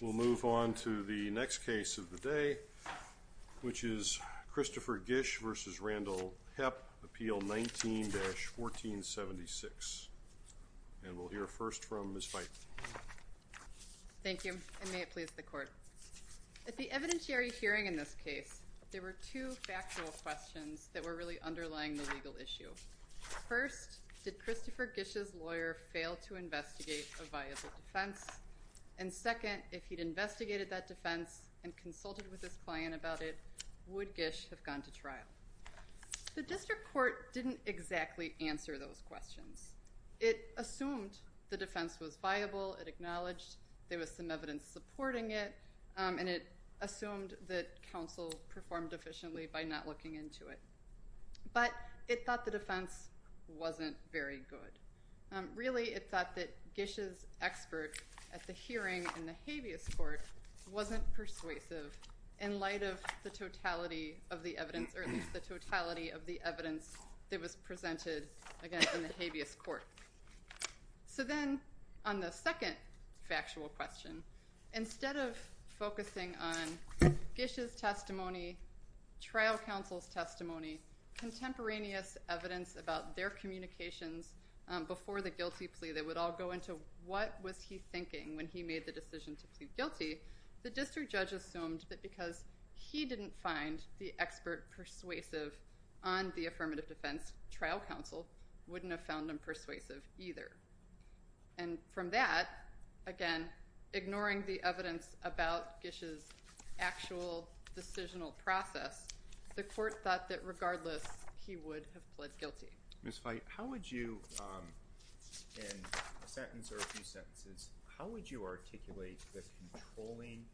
We'll move on to the next case of the day, which is Christopher Gish v. Randall Hepp, Appeal 19-1476. And we'll hear first from Ms. Feith. Thank you, and may it please the Court. At the evidentiary hearing in this case, there were two factual questions that were really underlying the legal issue. First, did Christopher Gish's lawyer fail to investigate a viable defense? And second, if he'd investigated that defense and consulted with his client about it, would Gish have gone to trial? The district court didn't exactly answer those questions. It assumed the defense was viable, it acknowledged there was some evidence supporting it, and it assumed that counsel performed efficiently by not looking into it. But it thought the defense wasn't very good. Really, it thought that Gish's expert at the hearing in the habeas court wasn't persuasive in light of the totality of the evidence, or at least the totality of the evidence that was presented, again, in the habeas court. So then, on the second factual question, instead of focusing on Gish's testimony, trial counsel's testimony, contemporaneous evidence about their communications before the guilty plea that would all go into what was he thinking when he made the decision to plead guilty, the district judge assumed that because he didn't find the expert persuasive on the affirmative defense, trial counsel wouldn't have found him persuasive either. And from that, again, ignoring the evidence about Gish's actual decisional process, the court thought that regardless, he would have pled guilty. Ms. Fite, how would you, in a sentence or a few sentences, how would you articulate the controlling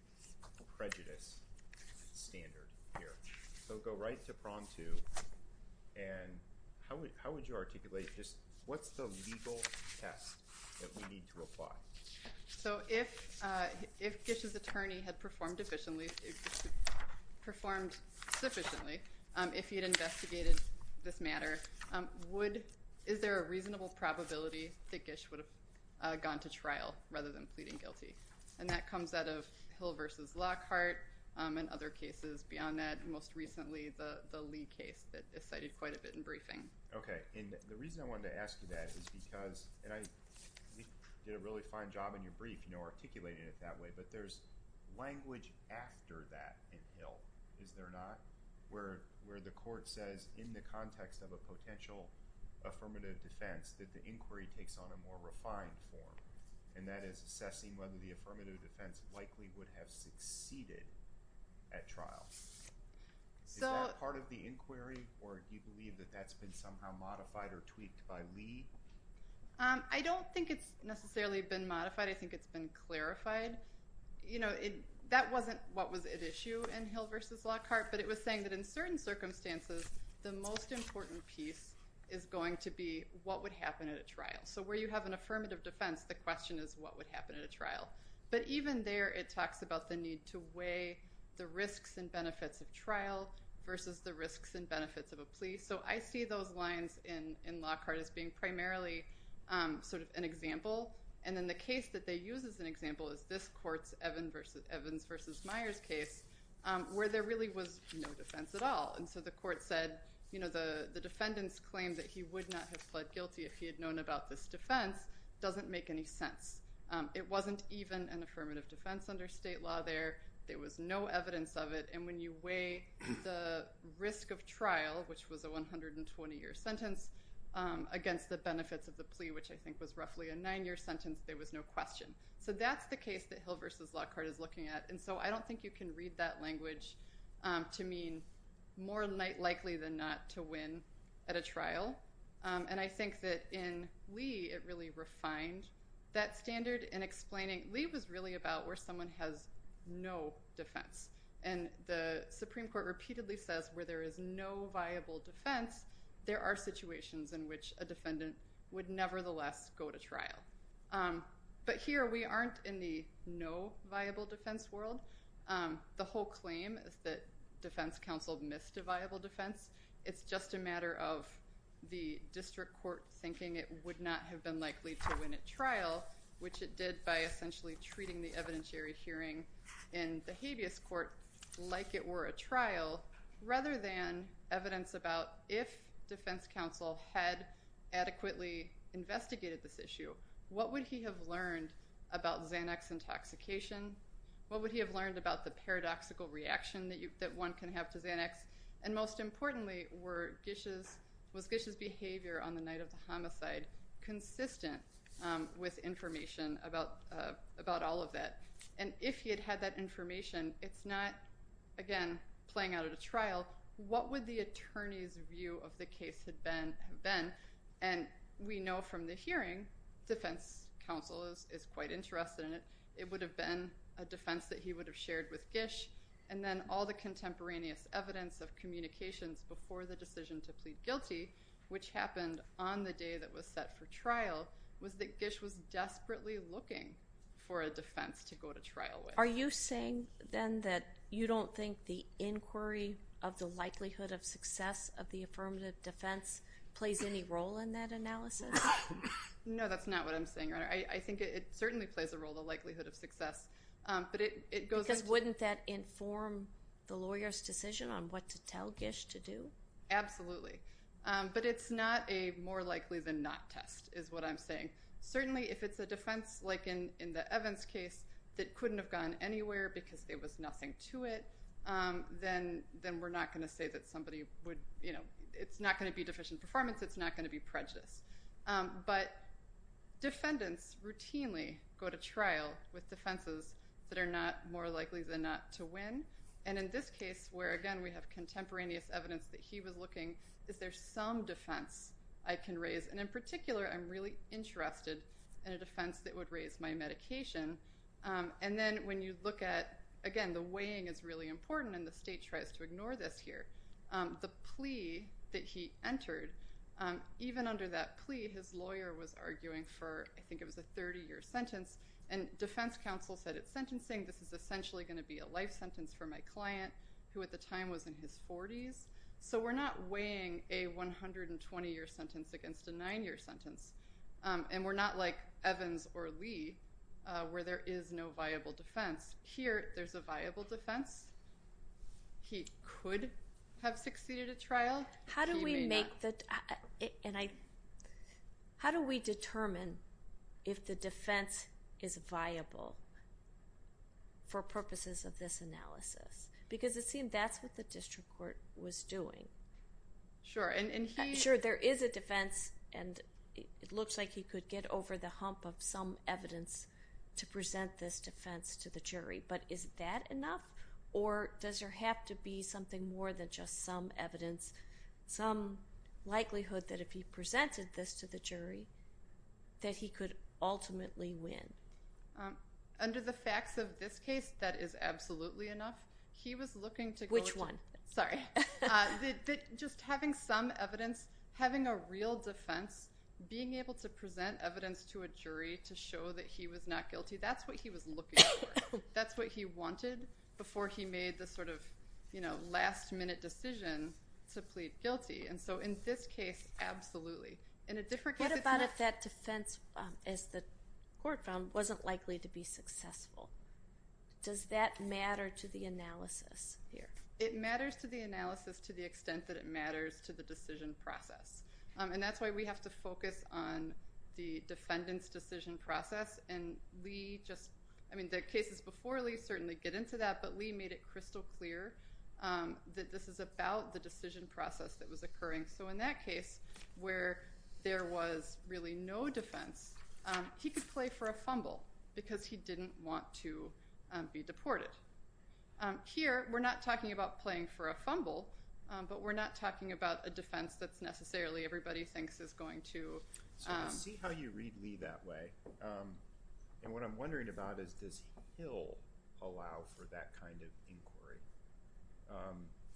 prejudice standard here? So go right to promptu, and how would you articulate just what's the legal test that we need to apply? So if Gish's attorney had performed sufficiently, if he had investigated this matter, is there a reasonable probability that Gish would have gone to trial rather than pleading guilty? And that comes out of Hill v. Lockhart and other cases beyond that, most recently the Lee case that is cited quite a bit in briefing. Okay, and the reason I wanted to ask you that is because, and I think you did a really fine job in your brief, you know, articulating it that way, but there's language after that in Hill, is there not? Where the court says in the context of a potential affirmative defense that the inquiry takes on a more refined form, and that is assessing whether the affirmative defense likely would have succeeded at trial. Is that part of the inquiry, or do you believe that that's been somehow modified or tweaked by Lee? I don't think it's necessarily been modified. I think it's been clarified. You know, that wasn't what was at issue in Hill v. Lockhart, but it was saying that in certain circumstances, the most important piece is going to be what would happen at a trial. So where you have an affirmative defense, the question is what would happen at a trial. But even there, it talks about the need to weigh the risks and benefits of trial versus the risks and benefits of a plea. So I see those lines in Lockhart as being primarily sort of an example. And then the case that they use as an example is this court's Evans v. Myers case, where there really was no defense at all. And so the court said, you know, the defendant's claim that he would not have pled guilty if he had known about this defense doesn't make any sense. It wasn't even an affirmative defense under state law there. There was no evidence of it. And when you weigh the risk of trial, which was a 120-year sentence, against the benefits of the plea, which I think was roughly a nine-year sentence, there was no question. So that's the case that Hill v. Lockhart is looking at. And so I don't think you can read that language to mean more likely than not to win at a trial. And I think that in Lee, it really refined that standard in explaining—Lee was really about where someone has no defense. And the Supreme Court repeatedly says where there is no viable defense, there are situations in which a defendant would nevertheless go to trial. But here, we aren't in the no viable defense world. The whole claim is that defense counsel missed a viable defense. It's just a matter of the district court thinking it would not have been likely to win at trial, which it did by essentially treating the evidentiary hearing in the habeas court like it were a trial, rather than evidence about if defense counsel had adequately investigated this issue, what would he have learned about Xanax intoxication? What would he have learned about the paradoxical reaction that one can have to Xanax? And most importantly, were Gish's—was Gish's behavior on the night of the homicide consistent with information about all of that? And if he had had that information, it's not, again, playing out at a trial. What would the attorney's view of the case have been? And we know from the hearing, defense counsel is quite interested in it. It would have been a defense that he would have shared with Gish. And then all the contemporaneous evidence of communications before the decision to plead guilty, which happened on the day that was set for trial, was that Gish was desperately looking for a defense to go to trial with. Are you saying, then, that you don't think the inquiry of the likelihood of success of the affirmative defense plays any role in that analysis? No, that's not what I'm saying, Your Honor. I think it certainly plays a role, the likelihood of success. But it doesn't inform the lawyer's decision on what to tell Gish to do? Absolutely. But it's not a more likely than not test, is what I'm saying. Certainly, if it's a defense, like in the Evans case, that couldn't have gone anywhere because there was nothing to it, then we're not going to say that somebody would—it's not going to be deficient performance. It's not going to be prejudice. But defendants routinely go to trial with defenses that are not more likely than not to win. And in this case, where, again, we have contemporaneous evidence that he was looking, is there some defense I can raise? And in particular, I'm really interested in a defense that would raise my medication. And then when you look at—again, the weighing is really important, and the state tries to ignore this here—the plea that he entered, even under that plea, his lawyer was arguing for, I think it was a 30-year sentence, and defense counsel said, sentencing, this is essentially going to be a life sentence for my client, who at the time was in his 40s. So we're not weighing a 120-year sentence against a 9-year sentence. And we're not like Evans or Lee, where there is no viable defense. Here, there's a viable defense. He could have succeeded at trial. He may not. How do we make the—and I—how do we determine if the defense is viable for purposes of this analysis? Because it seemed that's what the district court was doing. Sure, and he— Sure, there is a defense, and it looks like he could get over the hump of some evidence to present this defense to the jury. But is that enough, or does there have to be something more than just some evidence, some likelihood that if he could ultimately win? Under the facts of this case, that is absolutely enough. He was looking to— Which one? Sorry. Just having some evidence, having a real defense, being able to present evidence to a jury to show that he was not guilty, that's what he was looking for. That's what he wanted before he made the sort of, you know, last-minute decision to plead guilty. And so in this case, absolutely. In a different case, it's not— What about if that defense, as the court found, wasn't likely to be successful? Does that matter to the analysis here? It matters to the analysis to the extent that it matters to the decision process. And that's why we have to focus on the defendant's decision process. And Lee just—I mean, the cases before Lee certainly get into that, but Lee made it crystal clear that this is about the decision process that was occurring. So in that case, where there was really no defense, he could play for a fumble because he didn't want to be deported. Here, we're not talking about playing for a fumble, but we're not talking about a defense that's necessarily everybody thinks is going to— So I see how you read Lee that way. And what I'm wondering about is, does he'll allow for that kind of inquiry?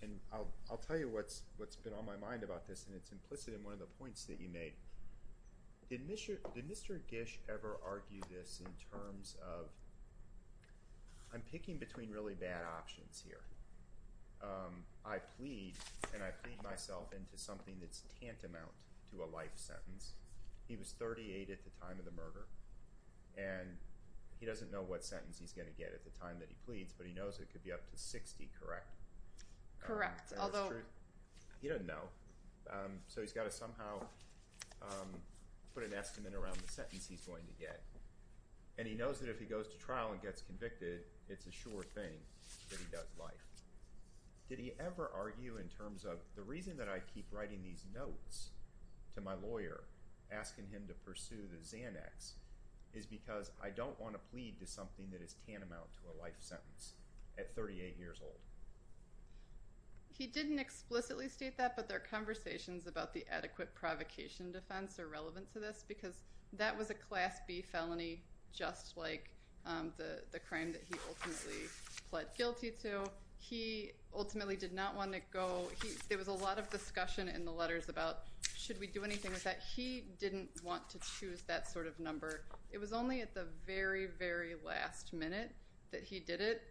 And I'll tell you what's been on my mind about this, and it's implicit in one of the points that you made. Did Mr. Gish ever argue this in terms of, I'm picking between really bad options here. I plead, and I plead myself into something that's tantamount to a life sentence. He was 38 at the time of the murder, and he doesn't know what sentence he's going to get at the time that he pleads, but he knows it could be up to 60, correct? Correct. He doesn't know, so he's got to somehow put an estimate around the sentence he's going to get. And he knows that if he goes to trial and gets convicted, it's a sure thing that he does life. Did he ever argue in terms of, the reason that I keep writing these notes to my lawyer, asking him to pursue the Xanax, is because I don't want to plead to something that is tantamount to a life sentence at 38 years old. He didn't explicitly state that, but their conversations about the adequate provocation defense are relevant to this, because that was a class B felony, just like the crime that he ultimately pled guilty to. He ultimately did not want to go, there was a lot of discussion in the It was only at the very, very last minute that he did it,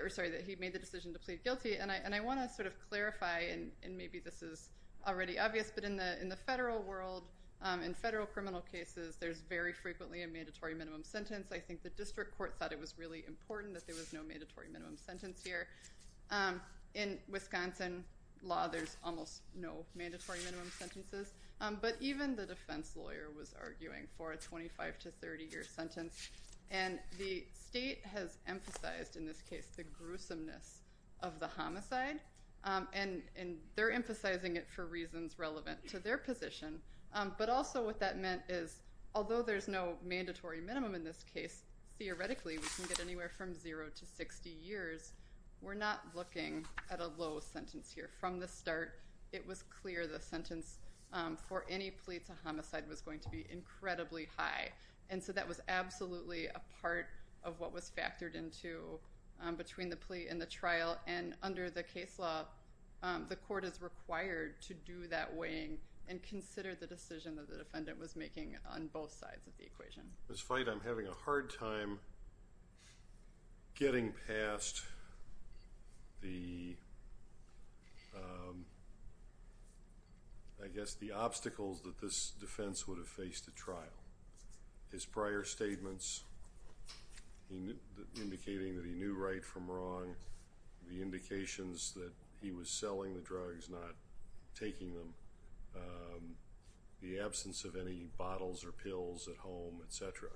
or sorry, that he made the decision to plead guilty, and I want to sort of clarify, and maybe this is already obvious, but in the federal world, in federal criminal cases, there's very frequently a mandatory minimum sentence. I think the district court thought it was really important that there was no mandatory minimum sentence here. In Wisconsin law, there's almost no mandatory minimum sentences, but even the defense lawyer was arguing for a 25 to 30 year sentence, and the state has emphasized, in this case, the gruesomeness of the homicide, and they're emphasizing it for reasons relevant to their position, but also what that meant is, although there's no mandatory minimum in this case, theoretically, we can get anywhere from zero to 60 years, we're not looking at a low sentence here. From the start, it was clear the sentence for any plea to homicide was going to be incredibly high, and so that was absolutely a part of what was factored into between the plea and the trial, and under the case law, the court is required to do that weighing and consider the decision that the defendant was making on both sides of the equation. Despite I'm having a hard time getting past the, I guess, the obstacles that this defense would have faced at trial, his prior statements indicating that he knew right from wrong, the indications that he was selling the drugs, not taking them, the absence of any bottles or pills at home, etc.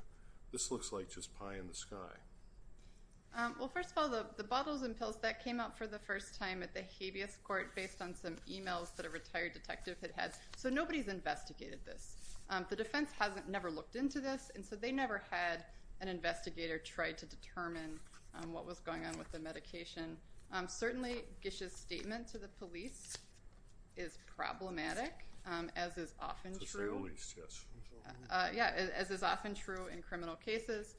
This looks like just pie in the sky. Well, first of all, the bottles and pills that came out for the first time at the habeas court based on some emails that a retired detective had had, so nobody's investigated this. The defense hasn't never looked into this, and so they never had an investigator try to determine what was going on with the medication. Certainly, Gish's statement to the police is problematic, as is often true in criminal cases,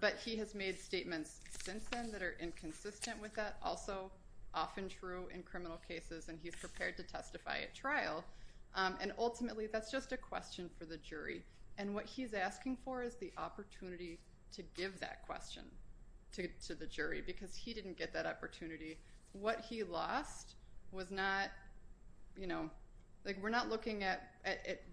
but he has made statements since then that are inconsistent with that, also often true in criminal cases, and he's prepared to testify at trial, and ultimately, that's just a question for the jury, and what he's asking for is the opportunity to give that question to the jury because he didn't get that opportunity. What he lost was not, you know, like we're not looking at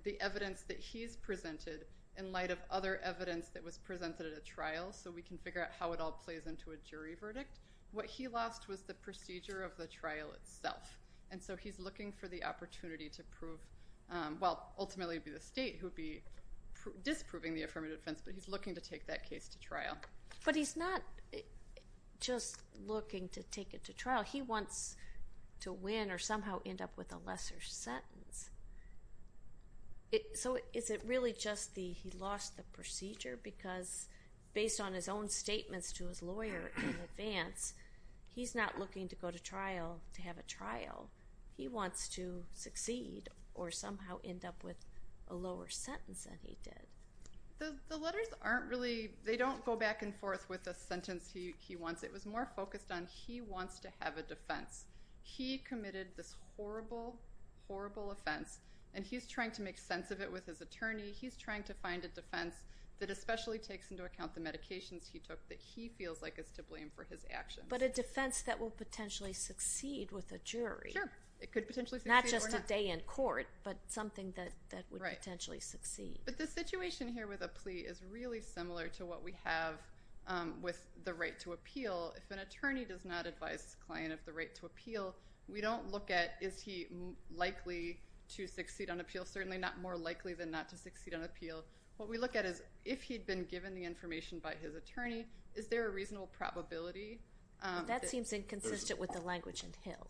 the evidence that he's presented in light of other evidence that was presented at a trial so we can figure out how it all plays into a jury verdict. What he lost was the procedure of the trial itself, and so he's looking for the opportunity to prove, well, ultimately it would be the state who would be disproving the affirmative defense, but he's looking to take that case to trial. But he's not just looking to take it to trial. He wants to win or somehow end up with a lesser sentence. So is it really just he lost the procedure because, based on his own statements to his lawyer in advance, he's not looking to go to trial to have a trial. He wants to succeed or somehow end up with a lower sentence than he did. The letters aren't really, they don't go back and forth with a sentence he wants. It was more a defense. He committed this horrible, horrible offense, and he's trying to make sense of it with his attorney. He's trying to find a defense that especially takes into account the medications he took that he feels like is to blame for his actions. But a defense that will potentially succeed with a jury. Sure. It could potentially succeed or not. Not just a day in court, but something that would potentially succeed. But the situation here with a plea is really similar to what we have with the right to appeal. If an attorney does not advise his client of the right to appeal, we don't look at is he likely to succeed on appeal. Certainly not more likely than not to succeed on appeal. What we look at is if he'd been given the information by his attorney, is there a reasonable probability? That seems inconsistent with the language in Hill.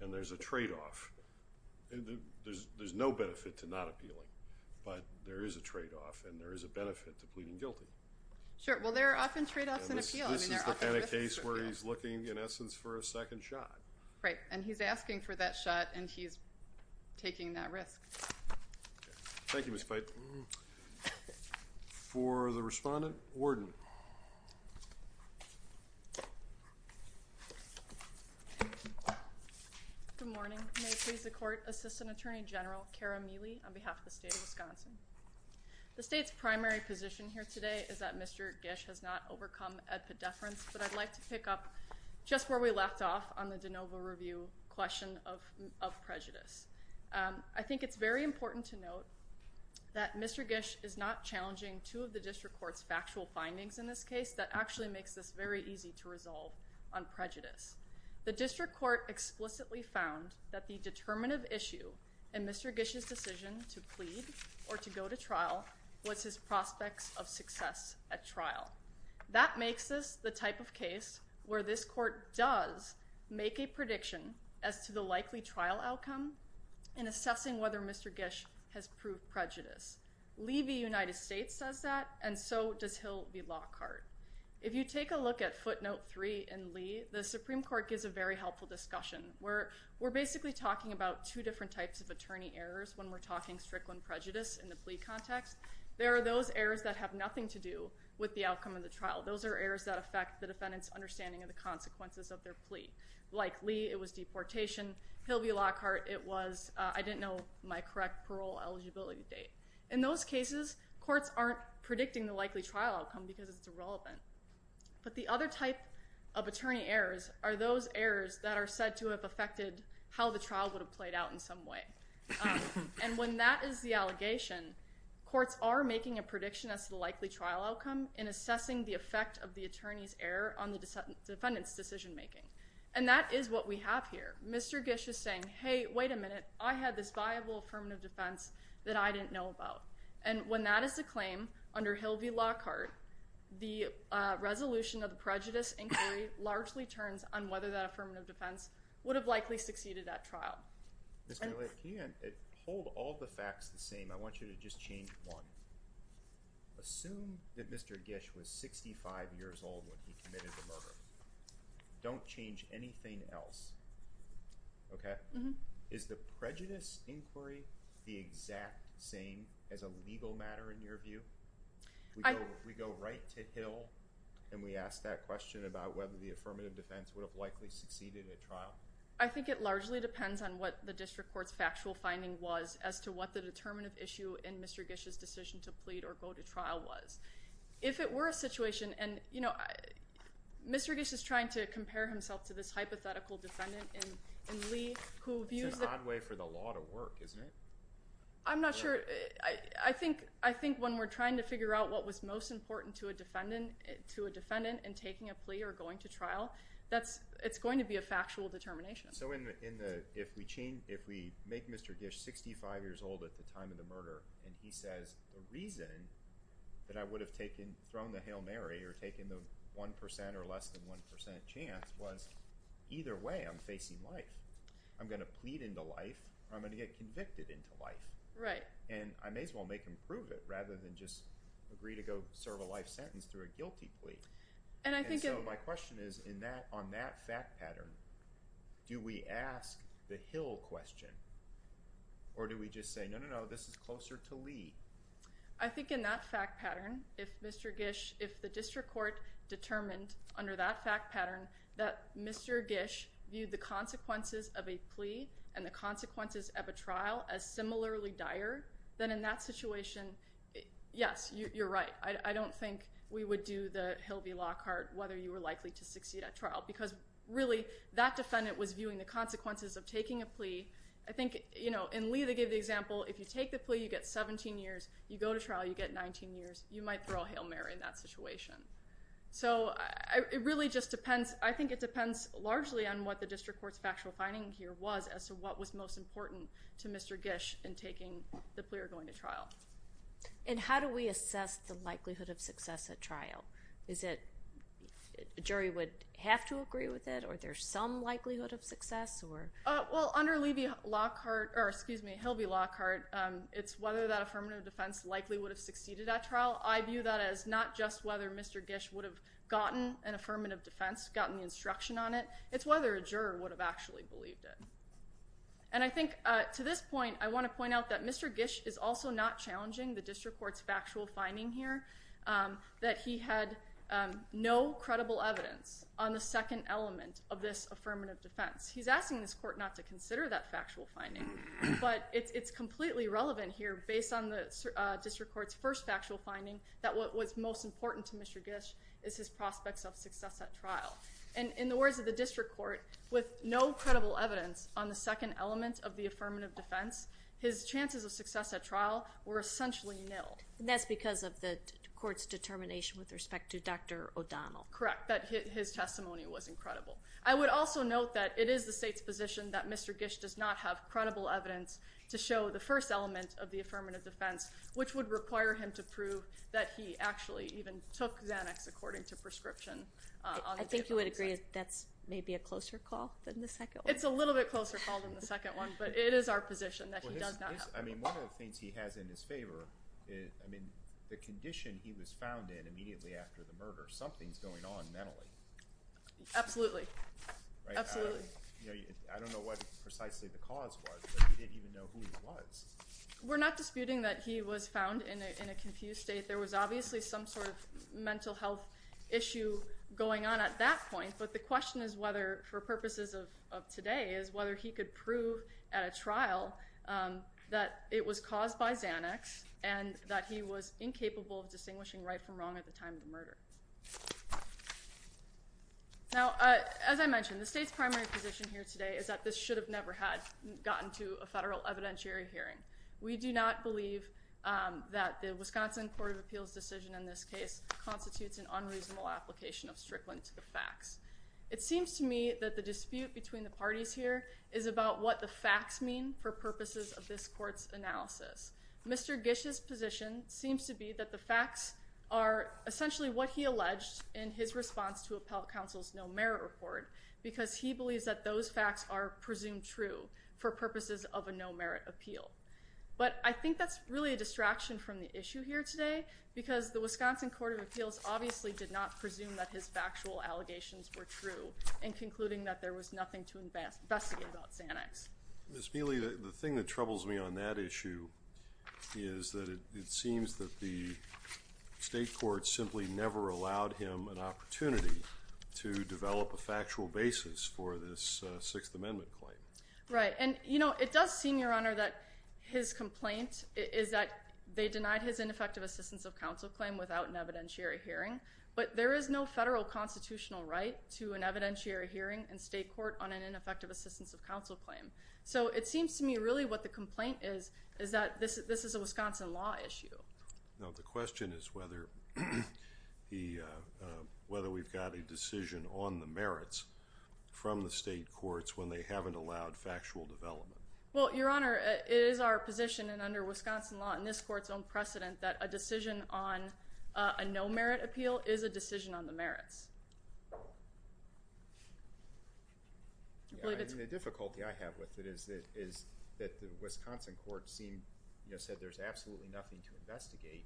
And there's a trade-off. There's no benefit to not appealing, but there is a trade-off, and there is a benefit to pleading guilty. Sure. Well, there are often trade-offs in appeal. This is the kind of case where he's looking, in essence, for a second shot. Right. And he's asking for that shot, and he's taking that risk. Thank you, Ms. Pipe. For the respondent, warden. Good morning. May it please the court, Assistant Attorney General Kara Mealy on behalf of the District Court. I think it's primary position here today is that Mr. Gish has not overcome edpedeference, but I'd like to pick up just where we left off on the de novo review question of prejudice. I think it's very important to note that Mr. Gish is not challenging two of the District Court's factual findings in this case that actually makes this very easy to resolve on prejudice. The District Court explicitly found that the determinative issue in Mr. Gish's decision to plead or to go to trial was his prospects of success at trial. That makes this the type of case where this court does make a prediction as to the likely trial outcome in assessing whether Mr. Gish has proved prejudice. Lee v. United States says that, and so does Hill v. Lockhart. If you take a look at footnote three in Lee, the Supreme Court gives a very helpful discussion where we're basically talking about two different types of attorney errors when we're talking strickland prejudice in the plea context. There are those errors that have nothing to do with the outcome of the trial. Those are errors that affect the defendant's understanding of the consequences of their plea. Like Lee, it was deportation. Hill v. Lockhart, it was I didn't know my correct parole eligibility date. In those cases, courts aren't predicting the likely trial outcome because it's irrelevant. But the other type of attorney errors are those errors that are said to have affected how the trial would have played out in some way. And when that is the allegation, courts are making a prediction as to the likely trial outcome in assessing the effect of the attorney's error on the defendant's decision making. And that is what we have here. Mr. Gish is saying, hey, wait a minute. I had this viable affirmative defense that I didn't know about. And when that is the claim under Hill v. Lockhart, the resolution of the prejudice inquiry largely turns on whether that affirmative defense would have likely succeeded at trial. Mr. Lake, can you hold all the facts the same? I want you to just change one. Assume that Mr. Gish was 65 years old when he committed the murder. Don't change anything else. Okay? Is the prejudice inquiry the exact same as a legal matter in your view? We go right to Hill and we ask that question about whether the affirmative defense would have likely succeeded at trial? I think it largely depends on what the district court's factual finding was as to what the determinative issue in Mr. Gish's decision to plead or go to trial was. If it were a situation, and you know, Mr. Gish is trying to compare himself to this hypothetical defendant in Lee. It's an odd way for the law to work, isn't it? I'm not sure. I think when we're trying to figure out what was most important to a defendant in taking a plea or going to trial, it's going to be a factual determination. So if we make Mr. Gish 65 years old at the time of the murder and he says the reason that I would have thrown the Hail Mary or taken the one percent or less than one percent chance was either way I'm facing life. I'm going to plead into life or I'm going to get convicted into life. And I may as well make him prove it rather than just agree to go serve a life sentence through a guilty plea. And so my question is on that fact pattern, do we ask the Hill question or do we just say, no, no, no, this is closer to Lee? I think in that fact pattern, if Mr. Gish, if the district court determined under that fact pattern that Mr. Gish viewed the consequences of a plea and the consequences of a trial as similarly dire, then in that situation, yes, you're right. I don't think we would do the Hill v. Lockhart whether you were likely to succeed at trial because really that defendant was viewing the consequences of taking a plea. I think in Lee, they gave the example, if you take the plea, you get 17 years, you go to trial, you get 19 years, you might throw a Hail Mary in that situation. So it really just depends, I think it depends largely on what the district court's factual finding here was as to what was most important to Mr. Gish in taking the plea or going to trial. And how do we assess the likelihood of success at trial? Is it a jury would have to agree with it or there's some likelihood of success or? Well, under Lee v. Lockhart, or excuse me, Hill v. Lockhart, it's whether that affirmative defense likely would have succeeded at trial. I view that as not just whether Mr. Gish would have gotten an affirmative defense, gotten the instruction on it, it's whether a juror would have actually believed it. And I think to this point, I want to point out that Mr. Gish is also not challenging the district court's factual finding here that he had no credible evidence on the second element of this affirmative defense. He's asking this court not to consider that factual finding, but it's that what was most important to Mr. Gish is his prospects of success at trial. And in the words of the district court, with no credible evidence on the second element of the affirmative defense, his chances of success at trial were essentially nil. And that's because of the court's determination with respect to Dr. O'Donnell. Correct, that his testimony was incredible. I would also note that it is the state's position that Mr. Gish does not have credible evidence to show the first element of the affirmative defense, which would require him to prove that he actually even took Xanax according to prescription. I think you would agree that's maybe a closer call than the second one? It's a little bit closer call than the second one, but it is our position that he does not have. I mean, one of the things he has in his favor is, I mean, the condition he was found in immediately after the murder. Something's going on mentally. Absolutely. Absolutely. I don't know what precisely the cause was, but we didn't even know who he was. We're not disputing that he was found in a confused state. There was obviously some sort of mental health issue going on at that point, but the question is whether, for purposes of today, is whether he could prove at a trial that it was caused by Xanax and that he was incapable of distinguishing right from wrong at the time of the murder. Now, as I mentioned, the state's primary position here today is that this should have never had gotten to a federal evidentiary hearing. We do not believe that the Wisconsin Court of Appeals decision in this case constitutes an unreasonable application of strickland to the facts. It seems to me that the dispute between the parties here is about what the facts mean for purposes of this court's analysis. Mr. Gish's position seems to be that the facts are essentially what he alleged in his response to Appellate Counsel's no merit report, because he believes that those facts are presumed true for purposes of a no merit appeal. But I think that's really a distraction from the issue here today, because the Wisconsin Court of Appeals obviously did not presume that his factual allegations were true in concluding that there was nothing to investigate about Xanax. Ms. Mealy, the thing that troubles me on that issue is that it seems that the state court simply never allowed him an opportunity to develop a basis for this Sixth Amendment claim. Right, and you know it does seem, Your Honor, that his complaint is that they denied his ineffective assistance of counsel claim without an evidentiary hearing, but there is no federal constitutional right to an evidentiary hearing in state court on an ineffective assistance of counsel claim. So it seems to me really what the complaint is is that this is a Wisconsin law issue. Now the question is whether we've got a decision on the from the state courts when they haven't allowed factual development. Well, Your Honor, it is our position, and under Wisconsin law and this court's own precedent, that a decision on a no merit appeal is a decision on the merits. The difficulty I have with it is that the Wisconsin court said there's absolutely nothing to investigate,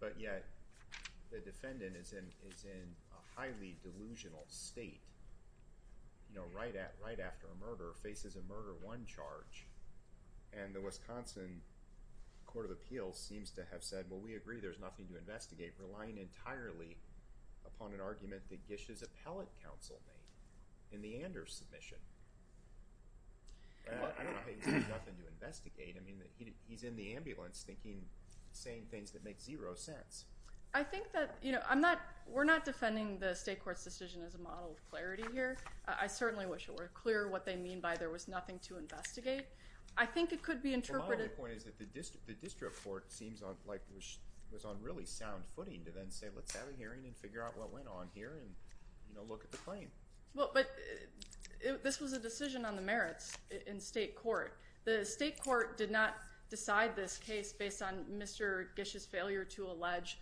but yet the defendant is in a highly delusional state, you know, right after a murder, faces a murder one charge, and the Wisconsin Court of Appeals seems to have said, well, we agree there's nothing to investigate, relying entirely upon an argument that Gish's appellate counsel made in the Anders submission. I don't think there's nothing to investigate. I mean, he's in the ambulance thinking, saying things that make zero sense. I think that, you know, I'm not, we're not defending the state court's decision as a model of clarity here. I certainly wish it were clear what they mean by there was nothing to investigate. I think it could be interpreted... The point is that the district court seems like it was on really sound footing to then say, let's have a hearing and figure out what went on here and, you know, look at the claim. Well, but this was a decision on the merits in state court. The state court did not decide this case based on Mr. Gish's failure to allege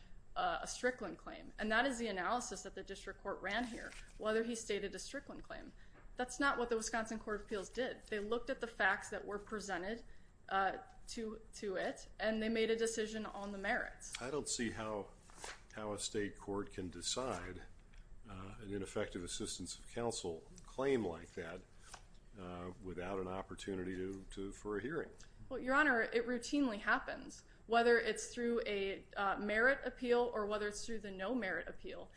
a Strickland claim, and that is the analysis that the district court ran here, whether he stated a Strickland claim. That's not what the Wisconsin Court of Appeals did. They looked at the facts that were presented to it, and they made a decision on the merits. I don't see how a state court can decide an ineffective assistance of counsel claim like that without an opportunity for a hearing. Well, Your Honor, it routinely happens, whether it's through a merit appeal or whether it's through the no merit appeal.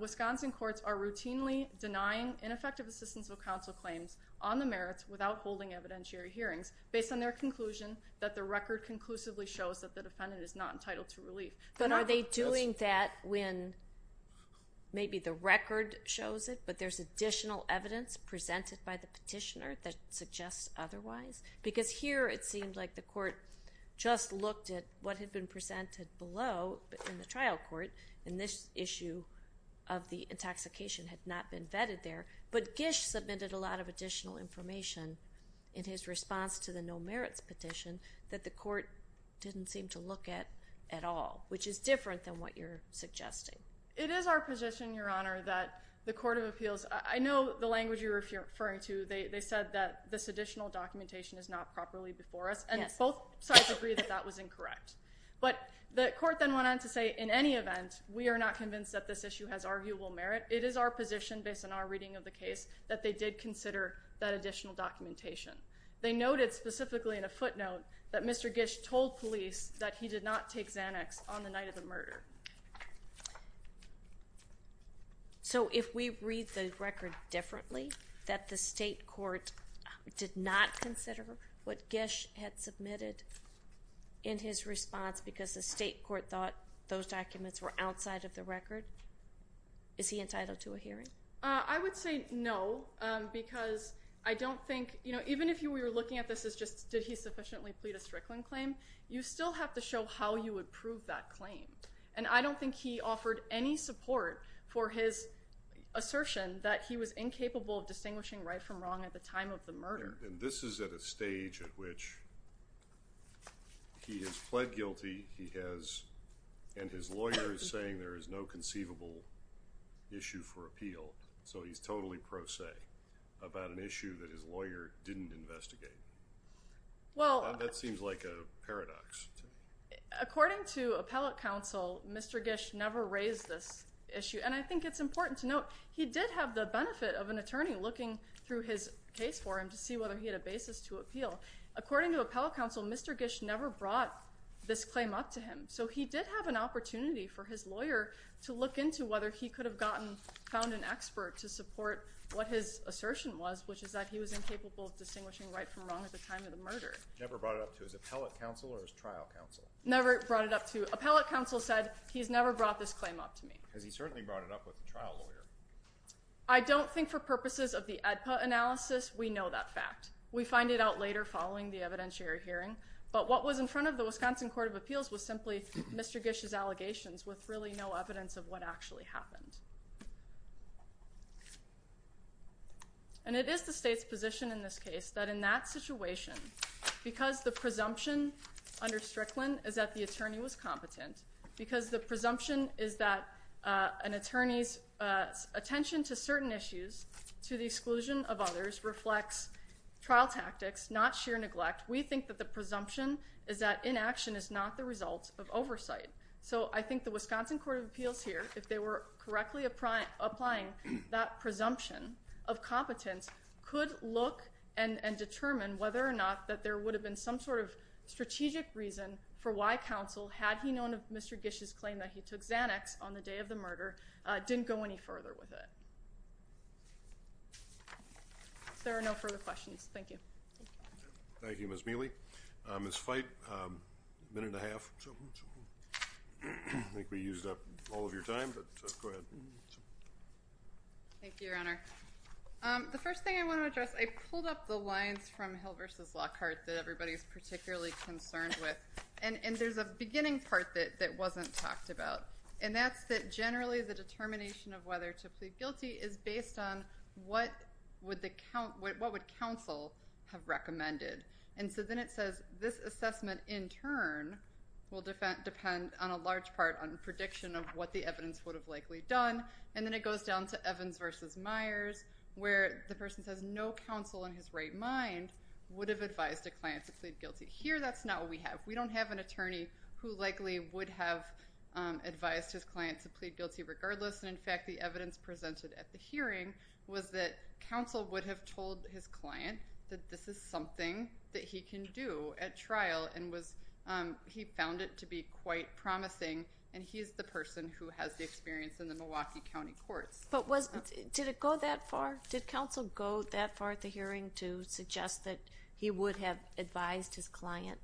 Wisconsin courts are routinely denying ineffective assistance of counsel claims on the merits without holding evidentiary hearings based on their conclusion that the record conclusively shows that the defendant is not entitled to relief. But are they doing that when maybe the record shows it, but there's additional evidence presented by the petitioner that suggests otherwise? Because here it seemed like the court just looked at what had been presented below in the trial court, and this issue of the intoxication had not been vetted there, but Gish submitted a lot of additional information in his response to the no merits petition that the court didn't seem to look at at all, which is different than what you're suggesting. It is our position, Your Honor, that the Court of Appeals, I know the language you're referring to, they said that this additional documentation is not properly before us, and both sides agree that that was incorrect. But the court then went on to say, in any event, we are not convinced that this issue has arguable merit. It is our position, based on our reading of the case, that they did consider that additional documentation. They noted specifically in a footnote that Mr. Gish told police that he did not take Xanax on the night of the murder. So, if we read the record differently, that the state court did not consider what Gish had submitted in his response because the state court thought those documents were outside of the record, is he entitled to a hearing? I would say no, because I don't think, you know, even if you were looking at this as just, did he sufficiently plead a Strickland claim, you still have to show how you would prove that claim. And I don't think he offered any support for his assertion that he was incapable of distinguishing right from wrong at the time of the murder. And this is at a stage at which he has pled guilty, he has, and his lawyer is saying there is no conceivable issue for appeal, so he's totally pro se about an issue that his lawyer didn't investigate. Well, that seems like a paradox to me. According to appellate counsel, Mr. Gish never raised this issue, and I think it's important to note he did have the benefit of an attorney looking through his case for him to see whether he had a basis to appeal. According to appellate counsel, Mr. Gish never brought this claim up to him, so he did have an opportunity for his lawyer to look into whether he could have gotten, found an expert to support what his assertion was, which is that he was incapable of distinguishing right from wrong at the time of the murder. Never brought it up to his appellate counsel or his trial counsel? Never brought it up to, appellate counsel said he's never brought this claim up to me. Because he certainly brought it up with the trial lawyer. I don't think for purposes of the ADPA analysis, we know that fact. We find it out later following the evidentiary hearing, but what was in front of the Wisconsin Court of Appeals was simply Mr. Gish's allegations with really no evidence of what actually happened. And it is the state's position in this case that in that situation, because the presumption under Strickland is that the attorney was competent, because the presumption is that an attorney's attention to certain issues to the exclusion of others reflects trial tactics, not sheer neglect, we think that the presumption is that inaction is not the result of oversight. So I think the Wisconsin Court of Appeals here, if they were correct in their assessment, applying that presumption of competence could look and determine whether or not that there would have been some sort of strategic reason for why counsel, had he known of Mr. Gish's claim that he took Xanax on the day of the murder, didn't go any further with it. There are no further questions. Thank you. Thank you, Ms. Mealy. Ms. Fite, a minute and a half. I think we used up all of your time, but go ahead. Thank you, Your Honor. The first thing I want to address, I pulled up the lines from Hill v. Lockhart that everybody's particularly concerned with, and there's a beginning part that wasn't talked about, and that's that generally the determination of whether to plead guilty is based on what would counsel have recommended. And so then it says, this assessment in turn will depend on a large part on prediction of what the evidence would have likely done. And then it goes down to Evans v. Myers, where the person says, no counsel in his right mind would have advised a client to plead guilty. Here, that's not what we have. We don't have an attorney who likely would have advised his client to plead guilty regardless. And in fact, the evidence presented at the hearing was that counsel would have told his client that this is something that he can do at trial, and he found it to be quite promising, and he's the person who has the experience in the Milwaukee County Courts. But did it go that far? Did counsel go that far at the hearing to suggest that he would have advised his client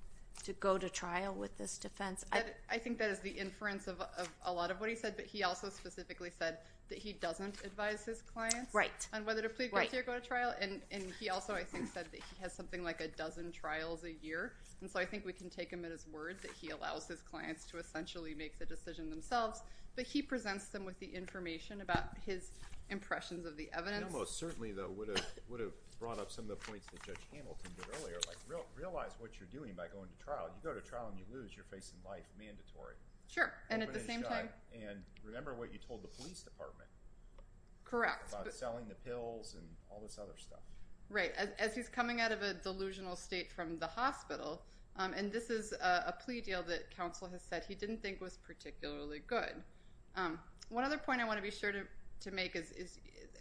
to go to trial with this defense? I think that is the inference of a lot of what he said, but he also specifically said that he doesn't advise his clients on whether to plead guilty or go to trial. And he also, I think, said that he has something like a dozen trials a year. And so I think we can take him at his word that he allows his clients to essentially make the decision themselves. But he presents them with the information about his impressions of the evidence. I know most certainly, though, would have brought up some of the points that Judge Hamilton did earlier, like realize what you're doing by going to trial. You go to trial, and you lose. You're facing life, mandatory. Sure. And at the same time... Correct. About selling the pills and all this other stuff. Right. As he's coming out of a delusional state from the hospital, and this is a plea deal that counsel has said he didn't think was particularly good. One other point I want to be sure to make is,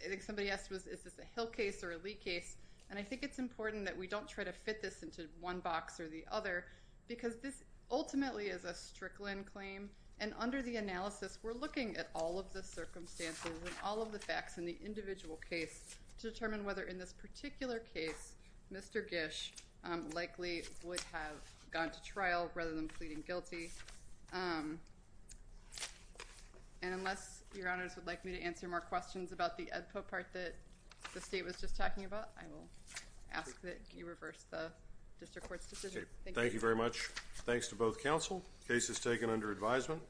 I think somebody asked, is this a Hill case or a Lee case? And I think it's important that we don't try to fit this into one box or the other, because this ultimately is a Strickland claim. And under the analysis, we're looking at all the circumstances and all of the facts in the individual case to determine whether in this particular case, Mr. Gish likely would have gone to trial rather than pleading guilty. And unless your honors would like me to answer more questions about the Edpo part that the state was just talking about, I will ask that you reverse the district court's decision. Thank you very much. Thanks to both counsel. Case is taken under advisement.